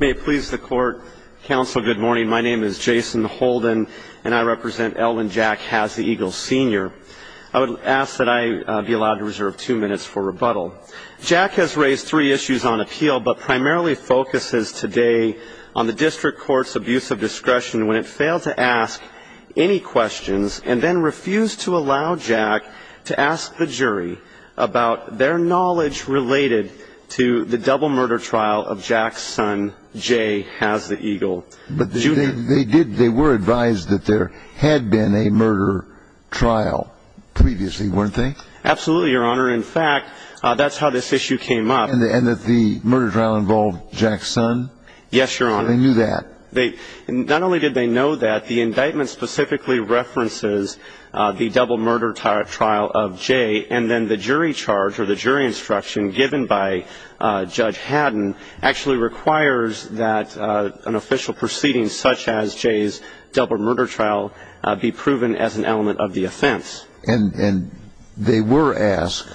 May it please the Court, Counsel, good morning. My name is Jason Holden and I represent Elwyn Jack Has The Eagle, Sr. I would ask that I be allowed to reserve two minutes for rebuttal. Jack has raised three issues on appeal but primarily focuses today on the District Court's abuse of discretion when it failed to ask any questions and then refused to allow Jack to ask the jury about their knowledge related to the double murder trial of Jack's son, Jay Has The Eagle, Jr. They were advised that there had been a murder trial previously, weren't they? Absolutely, Your Honor. In fact, that's how this issue came up. And that the murder trial involved Jack's son? Yes, Your Honor. They knew that? Not only did they know that, the indictment specifically references the double murder trial of Jay and then the jury charge or the jury instruction given by Judge Haddon actually requires that an official proceeding such as Jay's double murder trial be proven as an element of the offense. And they were asked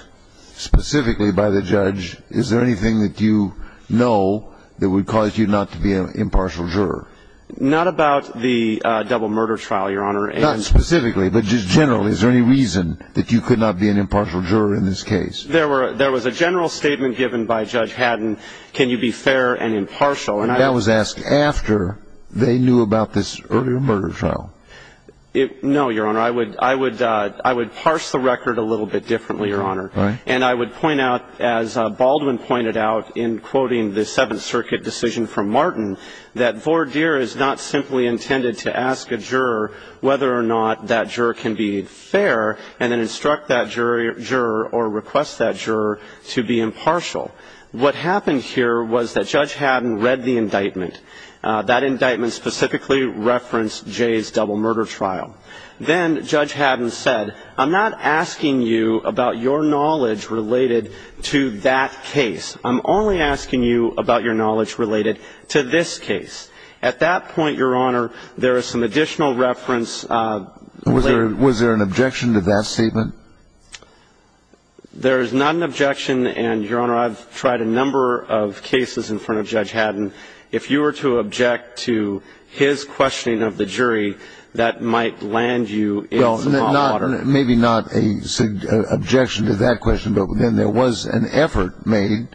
specifically by the judge, is there anything that you know that would cause you not to be an impartial juror? Not about the double murder trial, Your Honor. Not specifically, but just generally, is there any reason that you could not be an impartial juror in this case? There was a general statement given by Judge Haddon, can you be fair and impartial? And that was asked after they knew about this earlier murder trial? No, Your Honor. I would parse the record a little bit differently, Your Honor. And I would point out, as Baldwin pointed out in quoting the Seventh Circuit decision from Martin, that voir dire is not simply intended to ask a juror whether or not that juror can be fair and then instruct that juror or request that juror to be impartial. What happened here was that Judge Haddon read the indictment. That indictment specifically referenced Jay's double murder trial. Then Judge Haddon said, I'm not asking you about your knowledge related to that case. I'm only asking you about your knowledge related to this case. At that point, Your Honor, there is some additional reference. Was there an objection to that statement? There is not an objection. And, Your Honor, I've tried a number of cases in front of Judge Haddon. If you were to object to his questioning of the jury, that might land you in some hot water. Maybe not an objection to that question, but then there was an effort made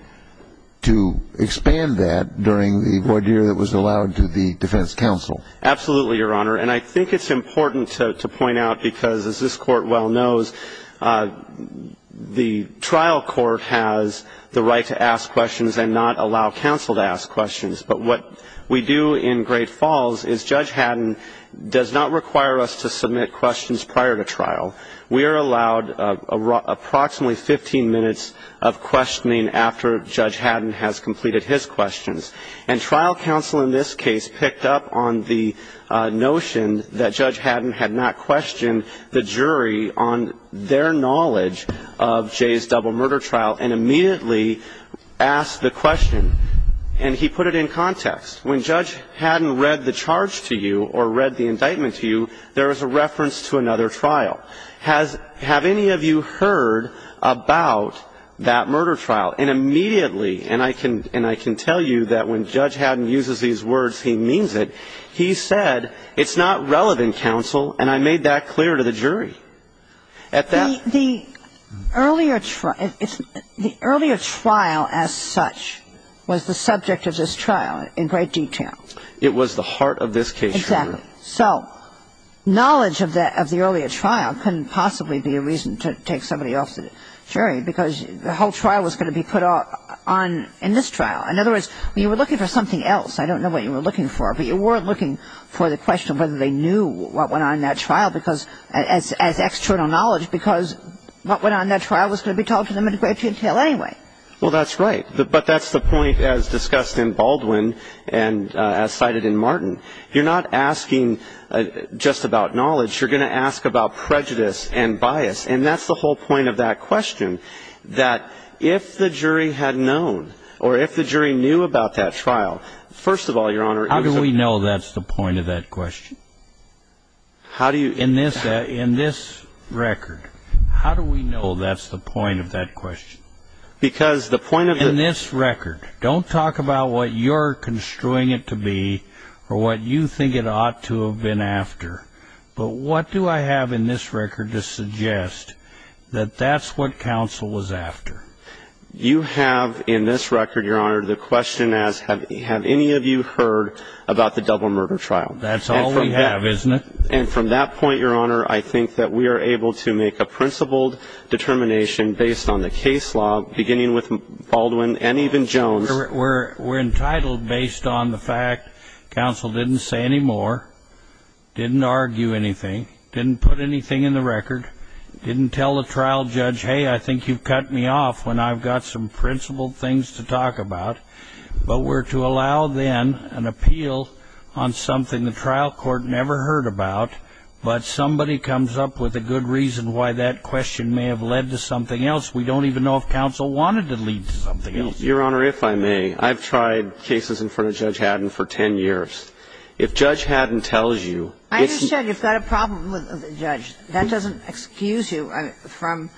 to expand that during the voir dire that was allowed to the defense counsel. Absolutely, Your Honor. And I think it's important to point out because, as this Court well knows, the trial court has the right to ask questions and not allow counsel to ask questions. But what we do in Great Falls is Judge Haddon does not require us to submit questions prior to trial. We are allowed approximately 15 minutes of questioning after Judge Haddon has completed his questions. And trial counsel in this case picked up on the notion that Judge Haddon had not questioned the jury on their knowledge of Jay's double murder trial and immediately asked the question. And he put it in context. When Judge Haddon read the charge to you or read the indictment to you, there was a reference to another trial. Have any of you heard about that murder trial? Well, and immediately, and I can tell you that when Judge Haddon uses these words, he means it, he said it's not relevant, counsel, and I made that clear to the jury. At that point. The earlier trial as such was the subject of this trial in great detail. It was the heart of this case, Your Honor. Exactly. So knowledge of the earlier trial couldn't possibly be a reason to take somebody off the jury because the whole trial was going to be put on in this trial. In other words, you were looking for something else. I don't know what you were looking for. But you weren't looking for the question of whether they knew what went on in that trial as external knowledge because what went on in that trial was going to be told to them in great detail anyway. Well, that's right. But that's the point as discussed in Baldwin and as cited in Martin. You're not asking just about knowledge. You're going to ask about prejudice and bias. And that's the whole point of that question, that if the jury had known or if the jury knew about that trial, first of all, Your Honor. How do we know that's the point of that question? In this record, how do we know that's the point of that question? Because the point of the... In this record. Don't talk about what you're construing it to be or what you think it ought to have been after. But what do I have in this record to suggest that that's what counsel was after? You have in this record, Your Honor, the question as have any of you heard about the double murder trial? That's all we have, isn't it? And from that point, Your Honor, I think that we are able to make a principled determination based on the case law, beginning with Baldwin and even Jones. We're entitled based on the fact counsel didn't say any more, didn't argue anything, didn't put anything in the record, didn't tell the trial judge, hey, I think you've cut me off when I've got some principled things to talk about. But we're to allow then an appeal on something the trial court never heard about, but somebody comes up with a good reason why that question may have led to something else. We don't even know if counsel wanted to lead to something else. Your Honor, if I may, I've tried cases in front of Judge Haddon for 10 years. If Judge Haddon tells you it's not – I understand you've got a problem with the judge. That doesn't excuse you from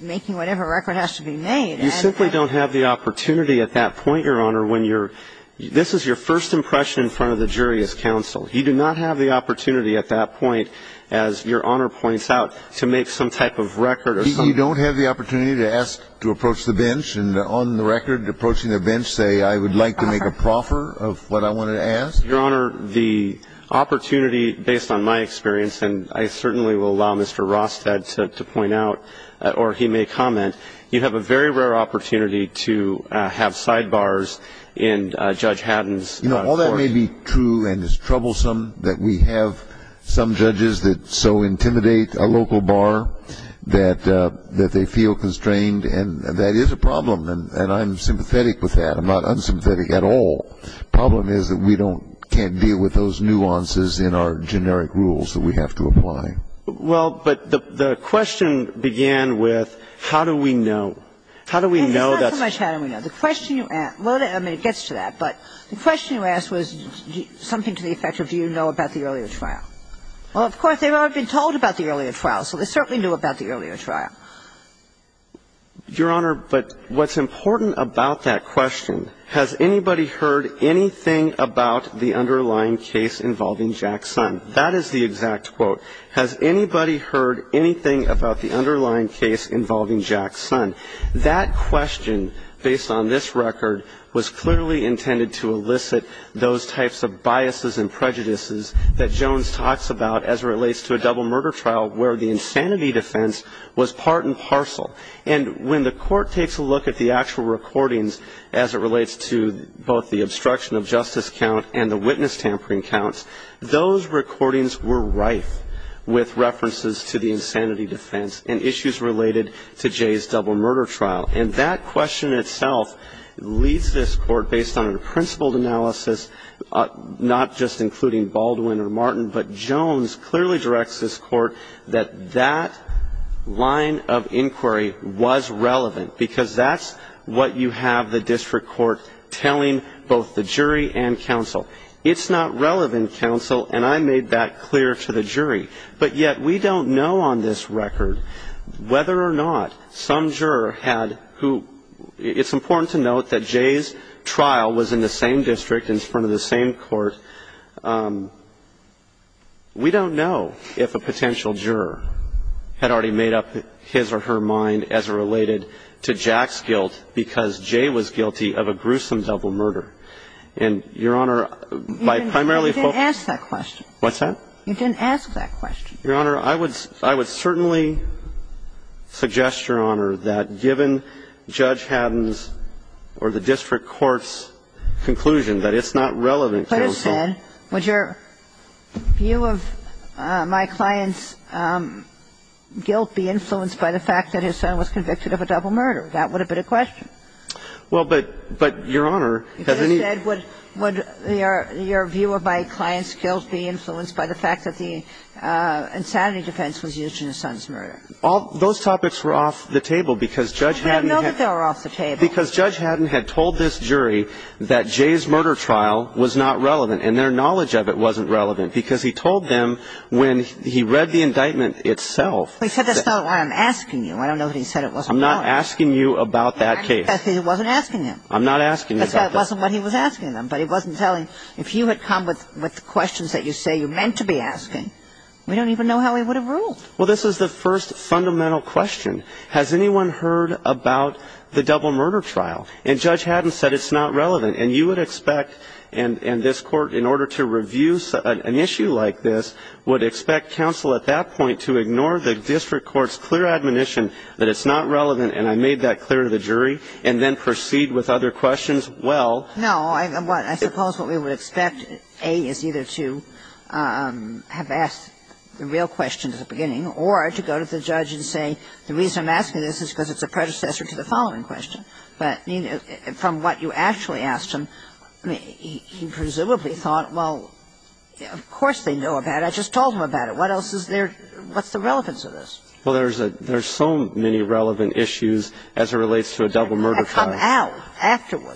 making whatever record has to be made. You simply don't have the opportunity at that point, Your Honor, when you're – this is your first impression in front of the jury as counsel. You do not have the opportunity at that point, as Your Honor points out, to make some type of record or some – You don't have the opportunity to ask to approach the bench and on the record approaching the bench say, I would like to make a proffer of what I wanted to ask? Your Honor, the opportunity, based on my experience, and I certainly will allow Mr. Rostad to point out or he may comment, you have a very rare opportunity to have sidebars in Judge Haddon's court. You know, all that may be true and is troublesome, that we have some judges that so intimidate a local bar that they feel constrained. And that is a problem. And I'm sympathetic with that. I'm not unsympathetic at all. The problem is that we don't – can't deal with those nuances in our generic rules that we have to apply. Well, but the question began with how do we know? How do we know that's – It's not so much how do we know. The question you – well, I mean, it gets to that. But the question you asked was something to the effect of do you know about the earlier trial? Well, of course, they've already been told about the earlier trial, so they certainly knew about the earlier trial. Your Honor, but what's important about that question, has anybody heard anything about the underlying case involving Jack's son? That is the exact quote. Has anybody heard anything about the underlying case involving Jack's son? That question, based on this record, was clearly intended to elicit those types of biases and prejudices that Jones talks about as it relates to a double murder trial where the insanity defense was part and parcel. And when the Court takes a look at the actual recordings as it relates to both the obstruction of justice count and the witness tampering counts, those recordings were rife with references to the insanity defense and issues related to Jay's double murder trial. And that question itself leads this Court, based on a principled analysis, not just including Baldwin or Martin, but Jones clearly directs this Court that that line of inquiry was relevant because that's what you have the district court telling both the jury and counsel. It's not relevant, counsel, and I made that clear to the jury. But yet we don't know on this record whether or not some juror had who – it's important to note that Jay's trial was in the same district, in front of the same court. We don't know if a potential juror had already made up his or her mind as it related to Jack's guilt because Jay was guilty of a gruesome double murder. And, Your Honor, by primarily – You didn't ask that question. What's that? You didn't ask that question. Your Honor, I would certainly suggest, Your Honor, that given Judge Haddon's or the district court's conclusion that it's not relevant, counsel – You could have said, would your view of my client's guilt be influenced by the fact that his son was convicted of a double murder? That would have been a question. Well, but, Your Honor, has any – any evidence to support the fact that the insanity defense was used in his son's murder? All – those topics were off the table because Judge Haddon had – We didn't know that they were off the table. Because Judge Haddon had told this jury that Jay's murder trial was not relevant and their knowledge of it wasn't relevant because he told them when he read the indictment itself – He said that's not why I'm asking you. I don't know that he said it wasn't relevant. I'm not asking you about that case. He wasn't asking him. I'm not asking him about that case. That's why it wasn't what he was asking them. But he wasn't telling – if you had come with questions that you say you meant to be asking, we don't even know how he would have ruled. Well, this is the first fundamental question. Has anyone heard about the double murder trial? And Judge Haddon said it's not relevant. And you would expect – and this Court, in order to review an issue like this, would expect counsel at that point to ignore the district court's clear admonition that it's not relevant, and I made that clear to the jury, and then proceed with other questions. But the question was, well – No. I suppose what we would expect A, is either to have asked the real question at the beginning or to go to the judge and say the reason I'm asking this is because it's a predecessor to the following question. But from what you actually asked him, he presumably thought, well, of course they know about it. I just told them about it. What else is there? What's the relevance of this? Well, there's a – there's so many relevant issues as it relates to a double murder trial. So I'm not going to get into that.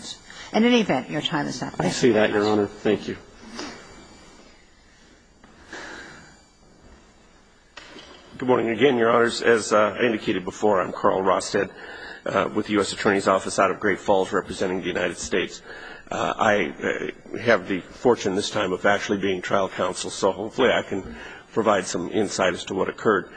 But I'm going to go to the judge and ask him to come out. And I'm going to ask him to come out afterwards. In any event, Your Honor, your time is up. I see that, Your Honor. Thank you. Good morning again, Your Honors. As I indicated before, I'm Carl Rosted with the U.S. Attorney's Office out of Great Falls representing the United States. I have the fortune this time of actually being trial counsel, so hopefully I can provide some insight as to what occurred.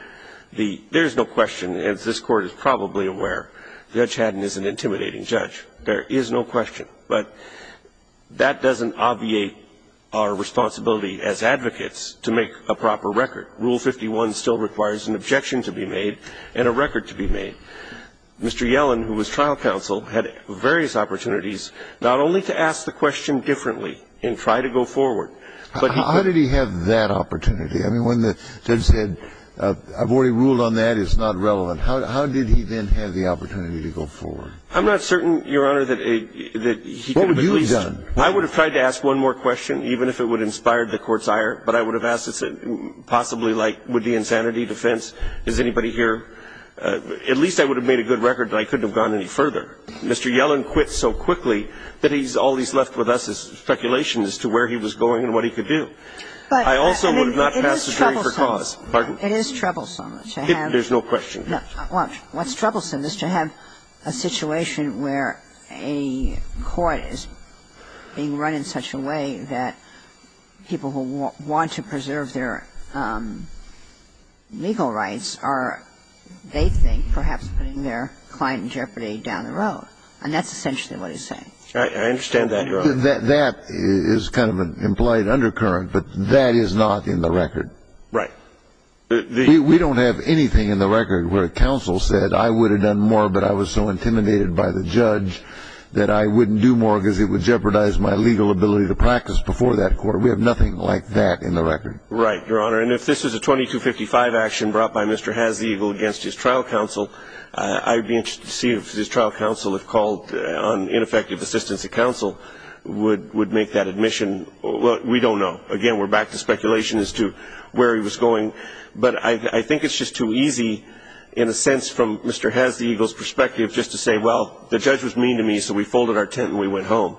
There's no question, as this Court is probably aware, Judge Haddon is an intimidating judge. There is no question. But that doesn't obviate our responsibility as advocates to make a proper record. Rule 51 still requires an objection to be made and a record to be made. Mr. Yellen, who was trial counsel, had various opportunities not only to ask the question differently and try to go forward, but he could – How did he have that opportunity? I mean, when the judge said, I've already ruled on that. It's not relevant. How did he then have the opportunity to go forward? I'm not certain, Your Honor, that he could have at least – What would you have done? I would have tried to ask one more question, even if it would have inspired the Court's ire, but I would have asked, possibly like, would be insanity, defense, is anybody here? At least I would have made a good record, but I couldn't have gone any further. Mr. Yellen quit so quickly that he's – all he's left with us is speculation as to where he was going and what he could do. I also would have not passed the jury for cause. Pardon? It is troublesome to have – There's no question. What's troublesome is to have a situation where a court is being run in such a way that people who want to preserve their legal rights are, they think, perhaps putting their client in jeopardy down the road. I understand that, Your Honor. That is kind of an implied undercurrent, but that is not in the record. Right. We don't have anything in the record where a counsel said, I would have done more, but I was so intimidated by the judge that I wouldn't do more because it would jeopardize my legal ability to practice before that court. We have nothing like that in the record. Right, Your Honor. And if this is a 2255 action brought by Mr. Hazegel against his trial counsel, I'd be interested to see if his trial counsel, if called on ineffective assistance of counsel, would make that admission. We don't know. Again, we're back to speculation as to where he was going. But I think it's just too easy, in a sense, from Mr. Hazegel's perspective, just to say, well, the judge was mean to me, so we folded our tent and we went home.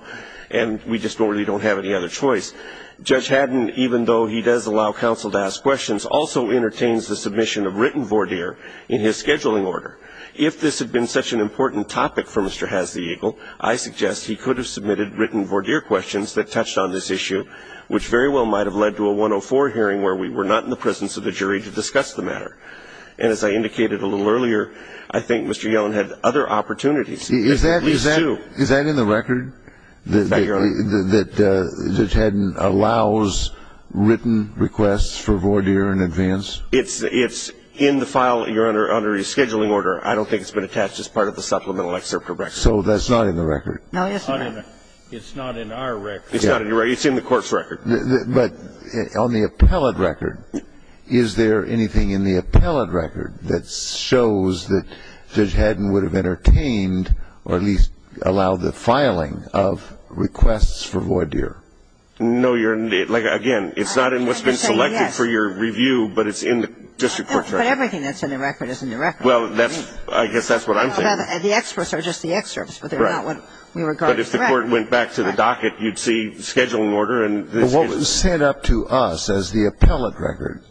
And we just really don't have any other choice. Judge Haddon, even though he does allow counsel to ask questions, also entertains the submission of written voir dire in his scheduling order. If this had been such an important topic for Mr. Hazegel, I suggest he could have submitted written voir dire questions that touched on this issue, which very well might have led to a 104 hearing where we were not in the presence of the jury to discuss the matter. And as I indicated a little earlier, I think Mr. Yellen had other opportunities. Is that in the record? That Judge Haddon allows written requests for voir dire in advance? It's in the file. You're under a rescheduling order. I don't think it's been attached as part of the supplemental excerpt for record. So that's not in the record? No, it's not. It's not in our record. It's not in your record? It's in the court's record. But on the appellate record, is there anything in the appellate record that shows that Judge Haddon would have entertained or at least allowed the filing of requests for voir dire? No, Your Honor. Like, again, it's not in what's been selected for your review, but it's in the district court's record. But everything that's in the record is in the record. Well, that's – I guess that's what I'm saying. The excerpts are just the excerpts. Right. But they're not what we regard as the record. But if the court went back to the docket, you'd see the scheduling order and the scheduling order. But what was sent up to us as the appellate record,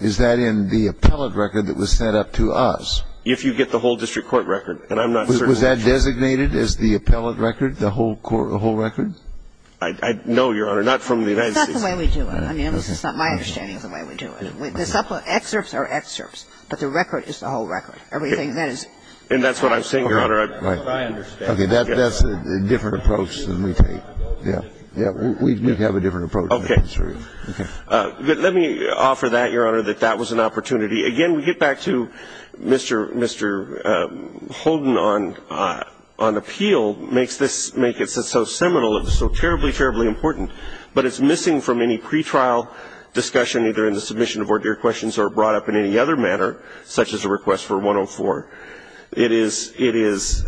is that in the appellate record that was sent up to us? If you get the whole district court record. And I'm not certain. Was that designated as the appellate record, the whole record? No, Your Honor. Not from the United States. That's the way we do it. I mean, this is not my understanding of the way we do it. The excerpts are excerpts. But the record is the whole record. Everything that is – And that's what I'm saying, Your Honor. Right. That's what I understand. Okay. That's a different approach than we take. Yeah. Yeah. We have a different approach. Okay. Let me offer that, Your Honor, that that was an opportunity. Again, we get back to Mr. Holden on appeal makes this – makes it so seminal of the world, so terribly, terribly important, but it's missing from any pretrial discussion, either in the submission of ordered questions or brought up in any other manner, such as a request for 104. It is – it is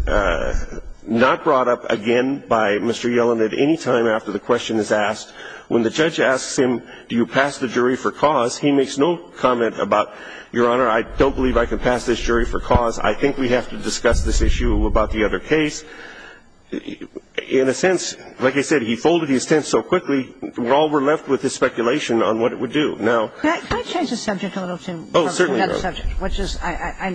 not brought up again by Mr. Yellen at any time after the question is asked. When the judge asks him, do you pass the jury for cause, he makes no comment about, Your Honor, I don't believe I can pass this jury for cause. I think we have to discuss this issue about the other case. In a sense, like I said, he folded his tent so quickly, all we're left with is speculation on what it would do. Now – Can I change the subject a little, too? Oh, certainly, Your Honor.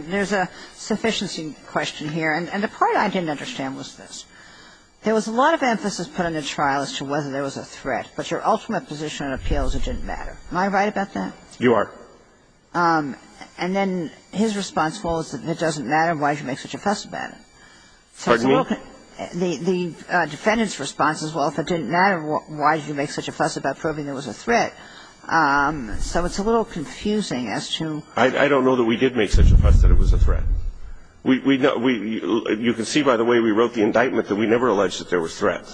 There's a sufficiency question here, and the part I didn't understand was this. There was a lot of emphasis put on the trial as to whether there was a threat, but your ultimate position on appeal is it didn't matter. Am I right about that? You are. Pardon me? The defendant's response is, well, if it didn't matter, why did you make such a fuss about proving there was a threat? So it's a little confusing as to – I don't know that we did make such a fuss that it was a threat. We – you can see, by the way, we wrote the indictment that we never alleged that there was threat.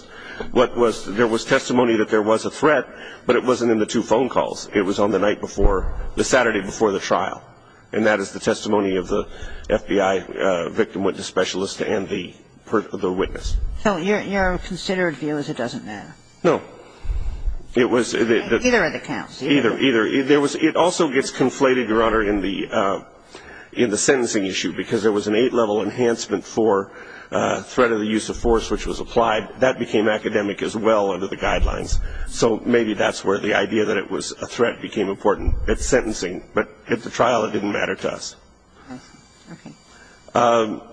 What was – there was testimony that there was a threat, but it wasn't in the two phone calls. It was on the night before – the Saturday before the trial, and that is the testimony of the FBI victim witness specialist and the witness. So your considered view is it doesn't matter? No. It was – Either of the counts. Either. Either. It also gets conflated, Your Honor, in the sentencing issue, because there was an eight-level enhancement for threat of the use of force, which was applied. That became academic as well under the guidelines. So maybe that's where the idea that it was a threat became important at sentencing. But at the trial, it didn't matter to us. Okay.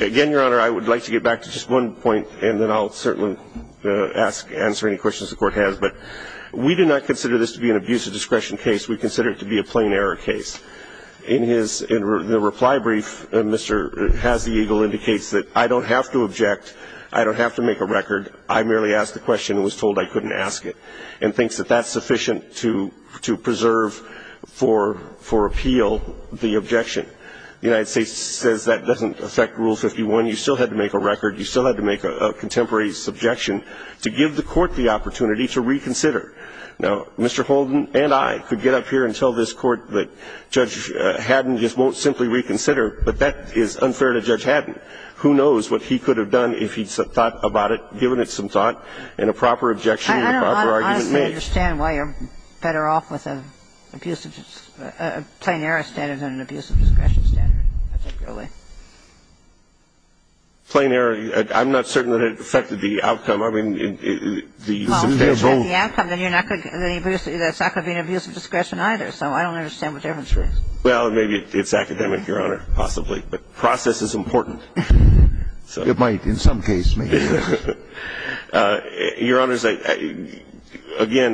Again, Your Honor, I would like to get back to just one point, and then I'll certainly ask – answer any questions the Court has. But we do not consider this to be an abuse of discretion case. We consider it to be a plain error case. In his – in the reply brief, Mr. Hazegel indicates that I don't have to object, I don't have to make a record. I merely asked the question and was told I couldn't ask it, and thinks that that's objection. The United States says that doesn't affect Rule 51. You still had to make a record. You still had to make a contemporary subjection to give the Court the opportunity to reconsider. Now, Mr. Holden and I could get up here and tell this Court that Judge Haddon just won't simply reconsider, but that is unfair to Judge Haddon. Who knows what he could have done if he'd thought about it, given it some thought and a proper objection and a proper argument made. I don't understand why you're better off with an abusive – a plain error standard than an abuse of discretion standard, particularly. Plain error. I'm not certain that it affected the outcome. I mean, the substance of the outcome. Well, if you have the outcome, then you're not going to get any abuse – that's not going to be an abuse of discretion either. So I don't understand what the difference is. Well, maybe it's academic, Your Honor, possibly. But process is important. It might in some case make a difference. Your Honors, again,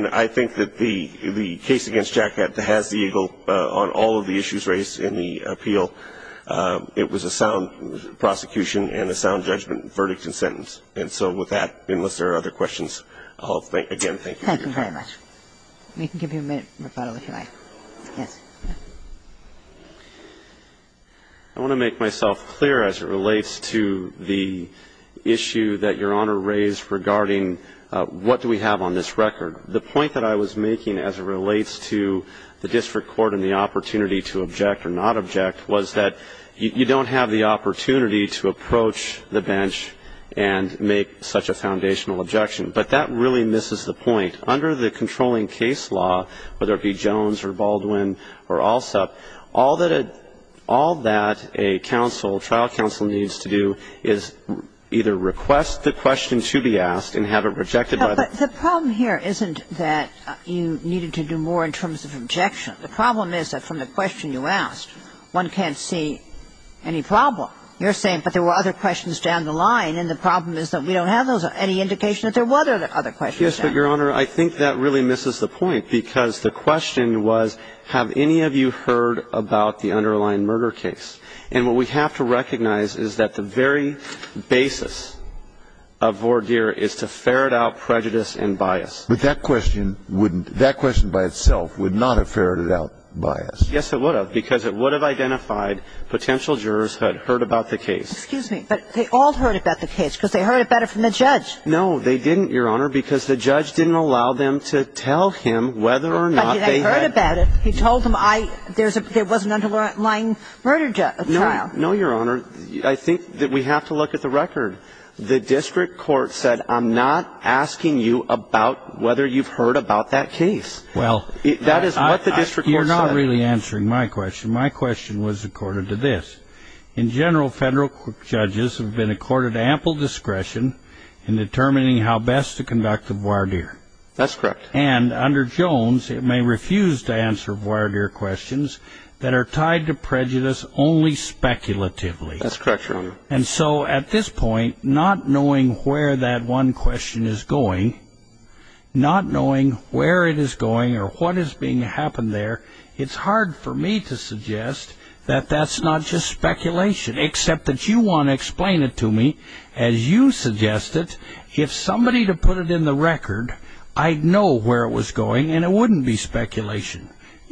I think that the case against Jackett that has the eagle on all of the issues raised in the appeal, it was a sound prosecution and a sound judgment verdict and sentence. And so with that, unless there are other questions, I'll, again, thank you. Thank you very much. We can give you a minute of rebuttal, if you like. Yes. I want to make myself clear as it relates to the issue that Your Honor raised regarding what do we have on this record. The point that I was making as it relates to the district court and the opportunity to object or not object was that you don't have the opportunity to approach the bench and make such a foundational objection. But that really misses the point. Under the controlling case law, whether it be Jones or Baldwin or Allsup, all that a trial counsel needs to do is either request the question to be asked and have it rejected by the court. But the problem here isn't that you needed to do more in terms of objection. The problem is that from the question you asked, one can't see any problem. You're saying, but there were other questions down the line, and the problem is that we don't have any indication that there were other questions. Yes, but, Your Honor, I think that really misses the point because the question was have any of you heard about the underlying murder case? And what we have to recognize is that the very basis of voir dire is to ferret out prejudice and bias. But that question wouldn't – that question by itself would not have ferreted out bias. Yes, it would have because it would have identified potential jurors had heard about the case. Excuse me, but they all heard about the case because they heard it better from the judge. No, they didn't, Your Honor, because the judge didn't allow them to tell him whether or not they had – But they heard about it. He told them I – there was an underlying murder trial. No, Your Honor. I think that we have to look at the record. The district court said I'm not asking you about whether you've heard about that case. Well – That is what the district court said. You're not really answering my question. My question was accorded to this. In general, federal judges have been accorded ample discretion in determining how best to conduct a voir dire. That's correct. And under Jones, it may refuse to answer voir dire questions that are tied to prejudice only speculatively. That's correct, Your Honor. And so at this point, not knowing where that one question is going, not knowing where it is going or what is being happened there, it's hard for me to suggest that that's not just speculation, except that you want to explain it to me as you suggest it. If somebody were to put it in the record, I'd know where it was going, and it wouldn't be speculation.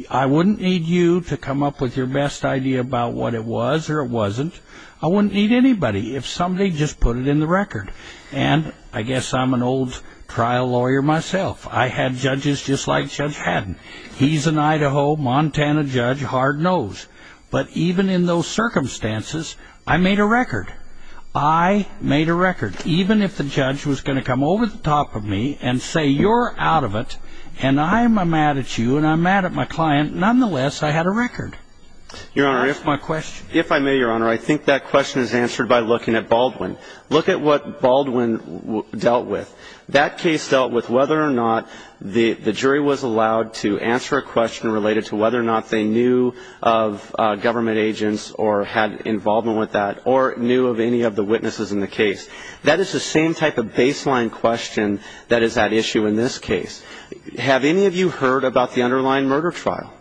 I wouldn't need you to come up with your best idea about what it was or it wasn't. I wouldn't need anybody. If somebody just put it in the record. And I guess I'm an old trial lawyer myself. I had judges just like Judge Haddon. He's an Idaho, Montana judge, hard nose. But even in those circumstances, I made a record. I made a record. Even if the judge was going to come over the top of me and say you're out of it and I'm mad at you and I'm mad at my client, nonetheless, I had a record. If I may, Your Honor, I think that question is answered by looking at Baldwin. Look at what Baldwin dealt with. That case dealt with whether or not the jury was allowed to answer a question related to whether or not they knew of government agents or had involvement with that or knew of any of the witnesses in the case. That is the same type of baseline question that is at issue in this case. Have any of you heard about the underlying murder trial?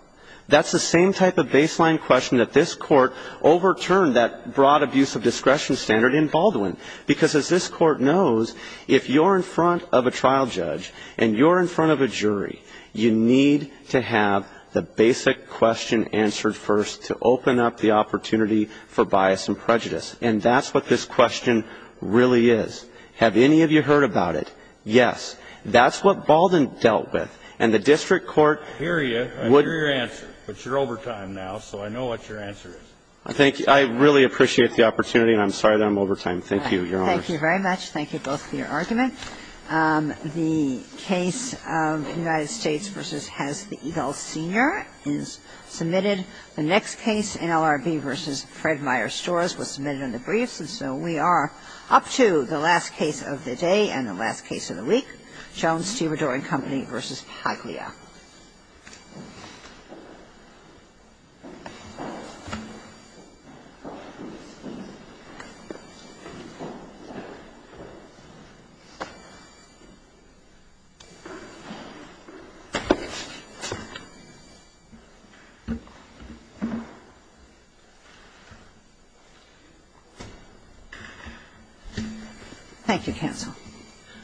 That's the same type of baseline question that this Court overturned that broad abuse of discretion standard in Baldwin. Because as this Court knows, if you're in front of a trial judge and you're in front of a jury, you need to have the basic question answered first to open up the opportunity for bias and prejudice. And that's what this question really is. Have any of you heard about it? Yes. That's what Baldwin dealt with. And the district court would ---- I hear you. I hear your answer. But you're overtime now, so I know what your answer is. Thank you. I really appreciate the opportunity, and I'm sorry that I'm overtime. Thank you, Your Honors. Thank you very much. Thank you both for your argument. The case, United States v. Hess v. Eagle Sr. is submitted. The next case, NLRB v. Fred Meyer Storrs, was submitted under briefs. And so we are up to the last case of the day and the last case of the week. Jones-Stiridor and Company v. Paglia.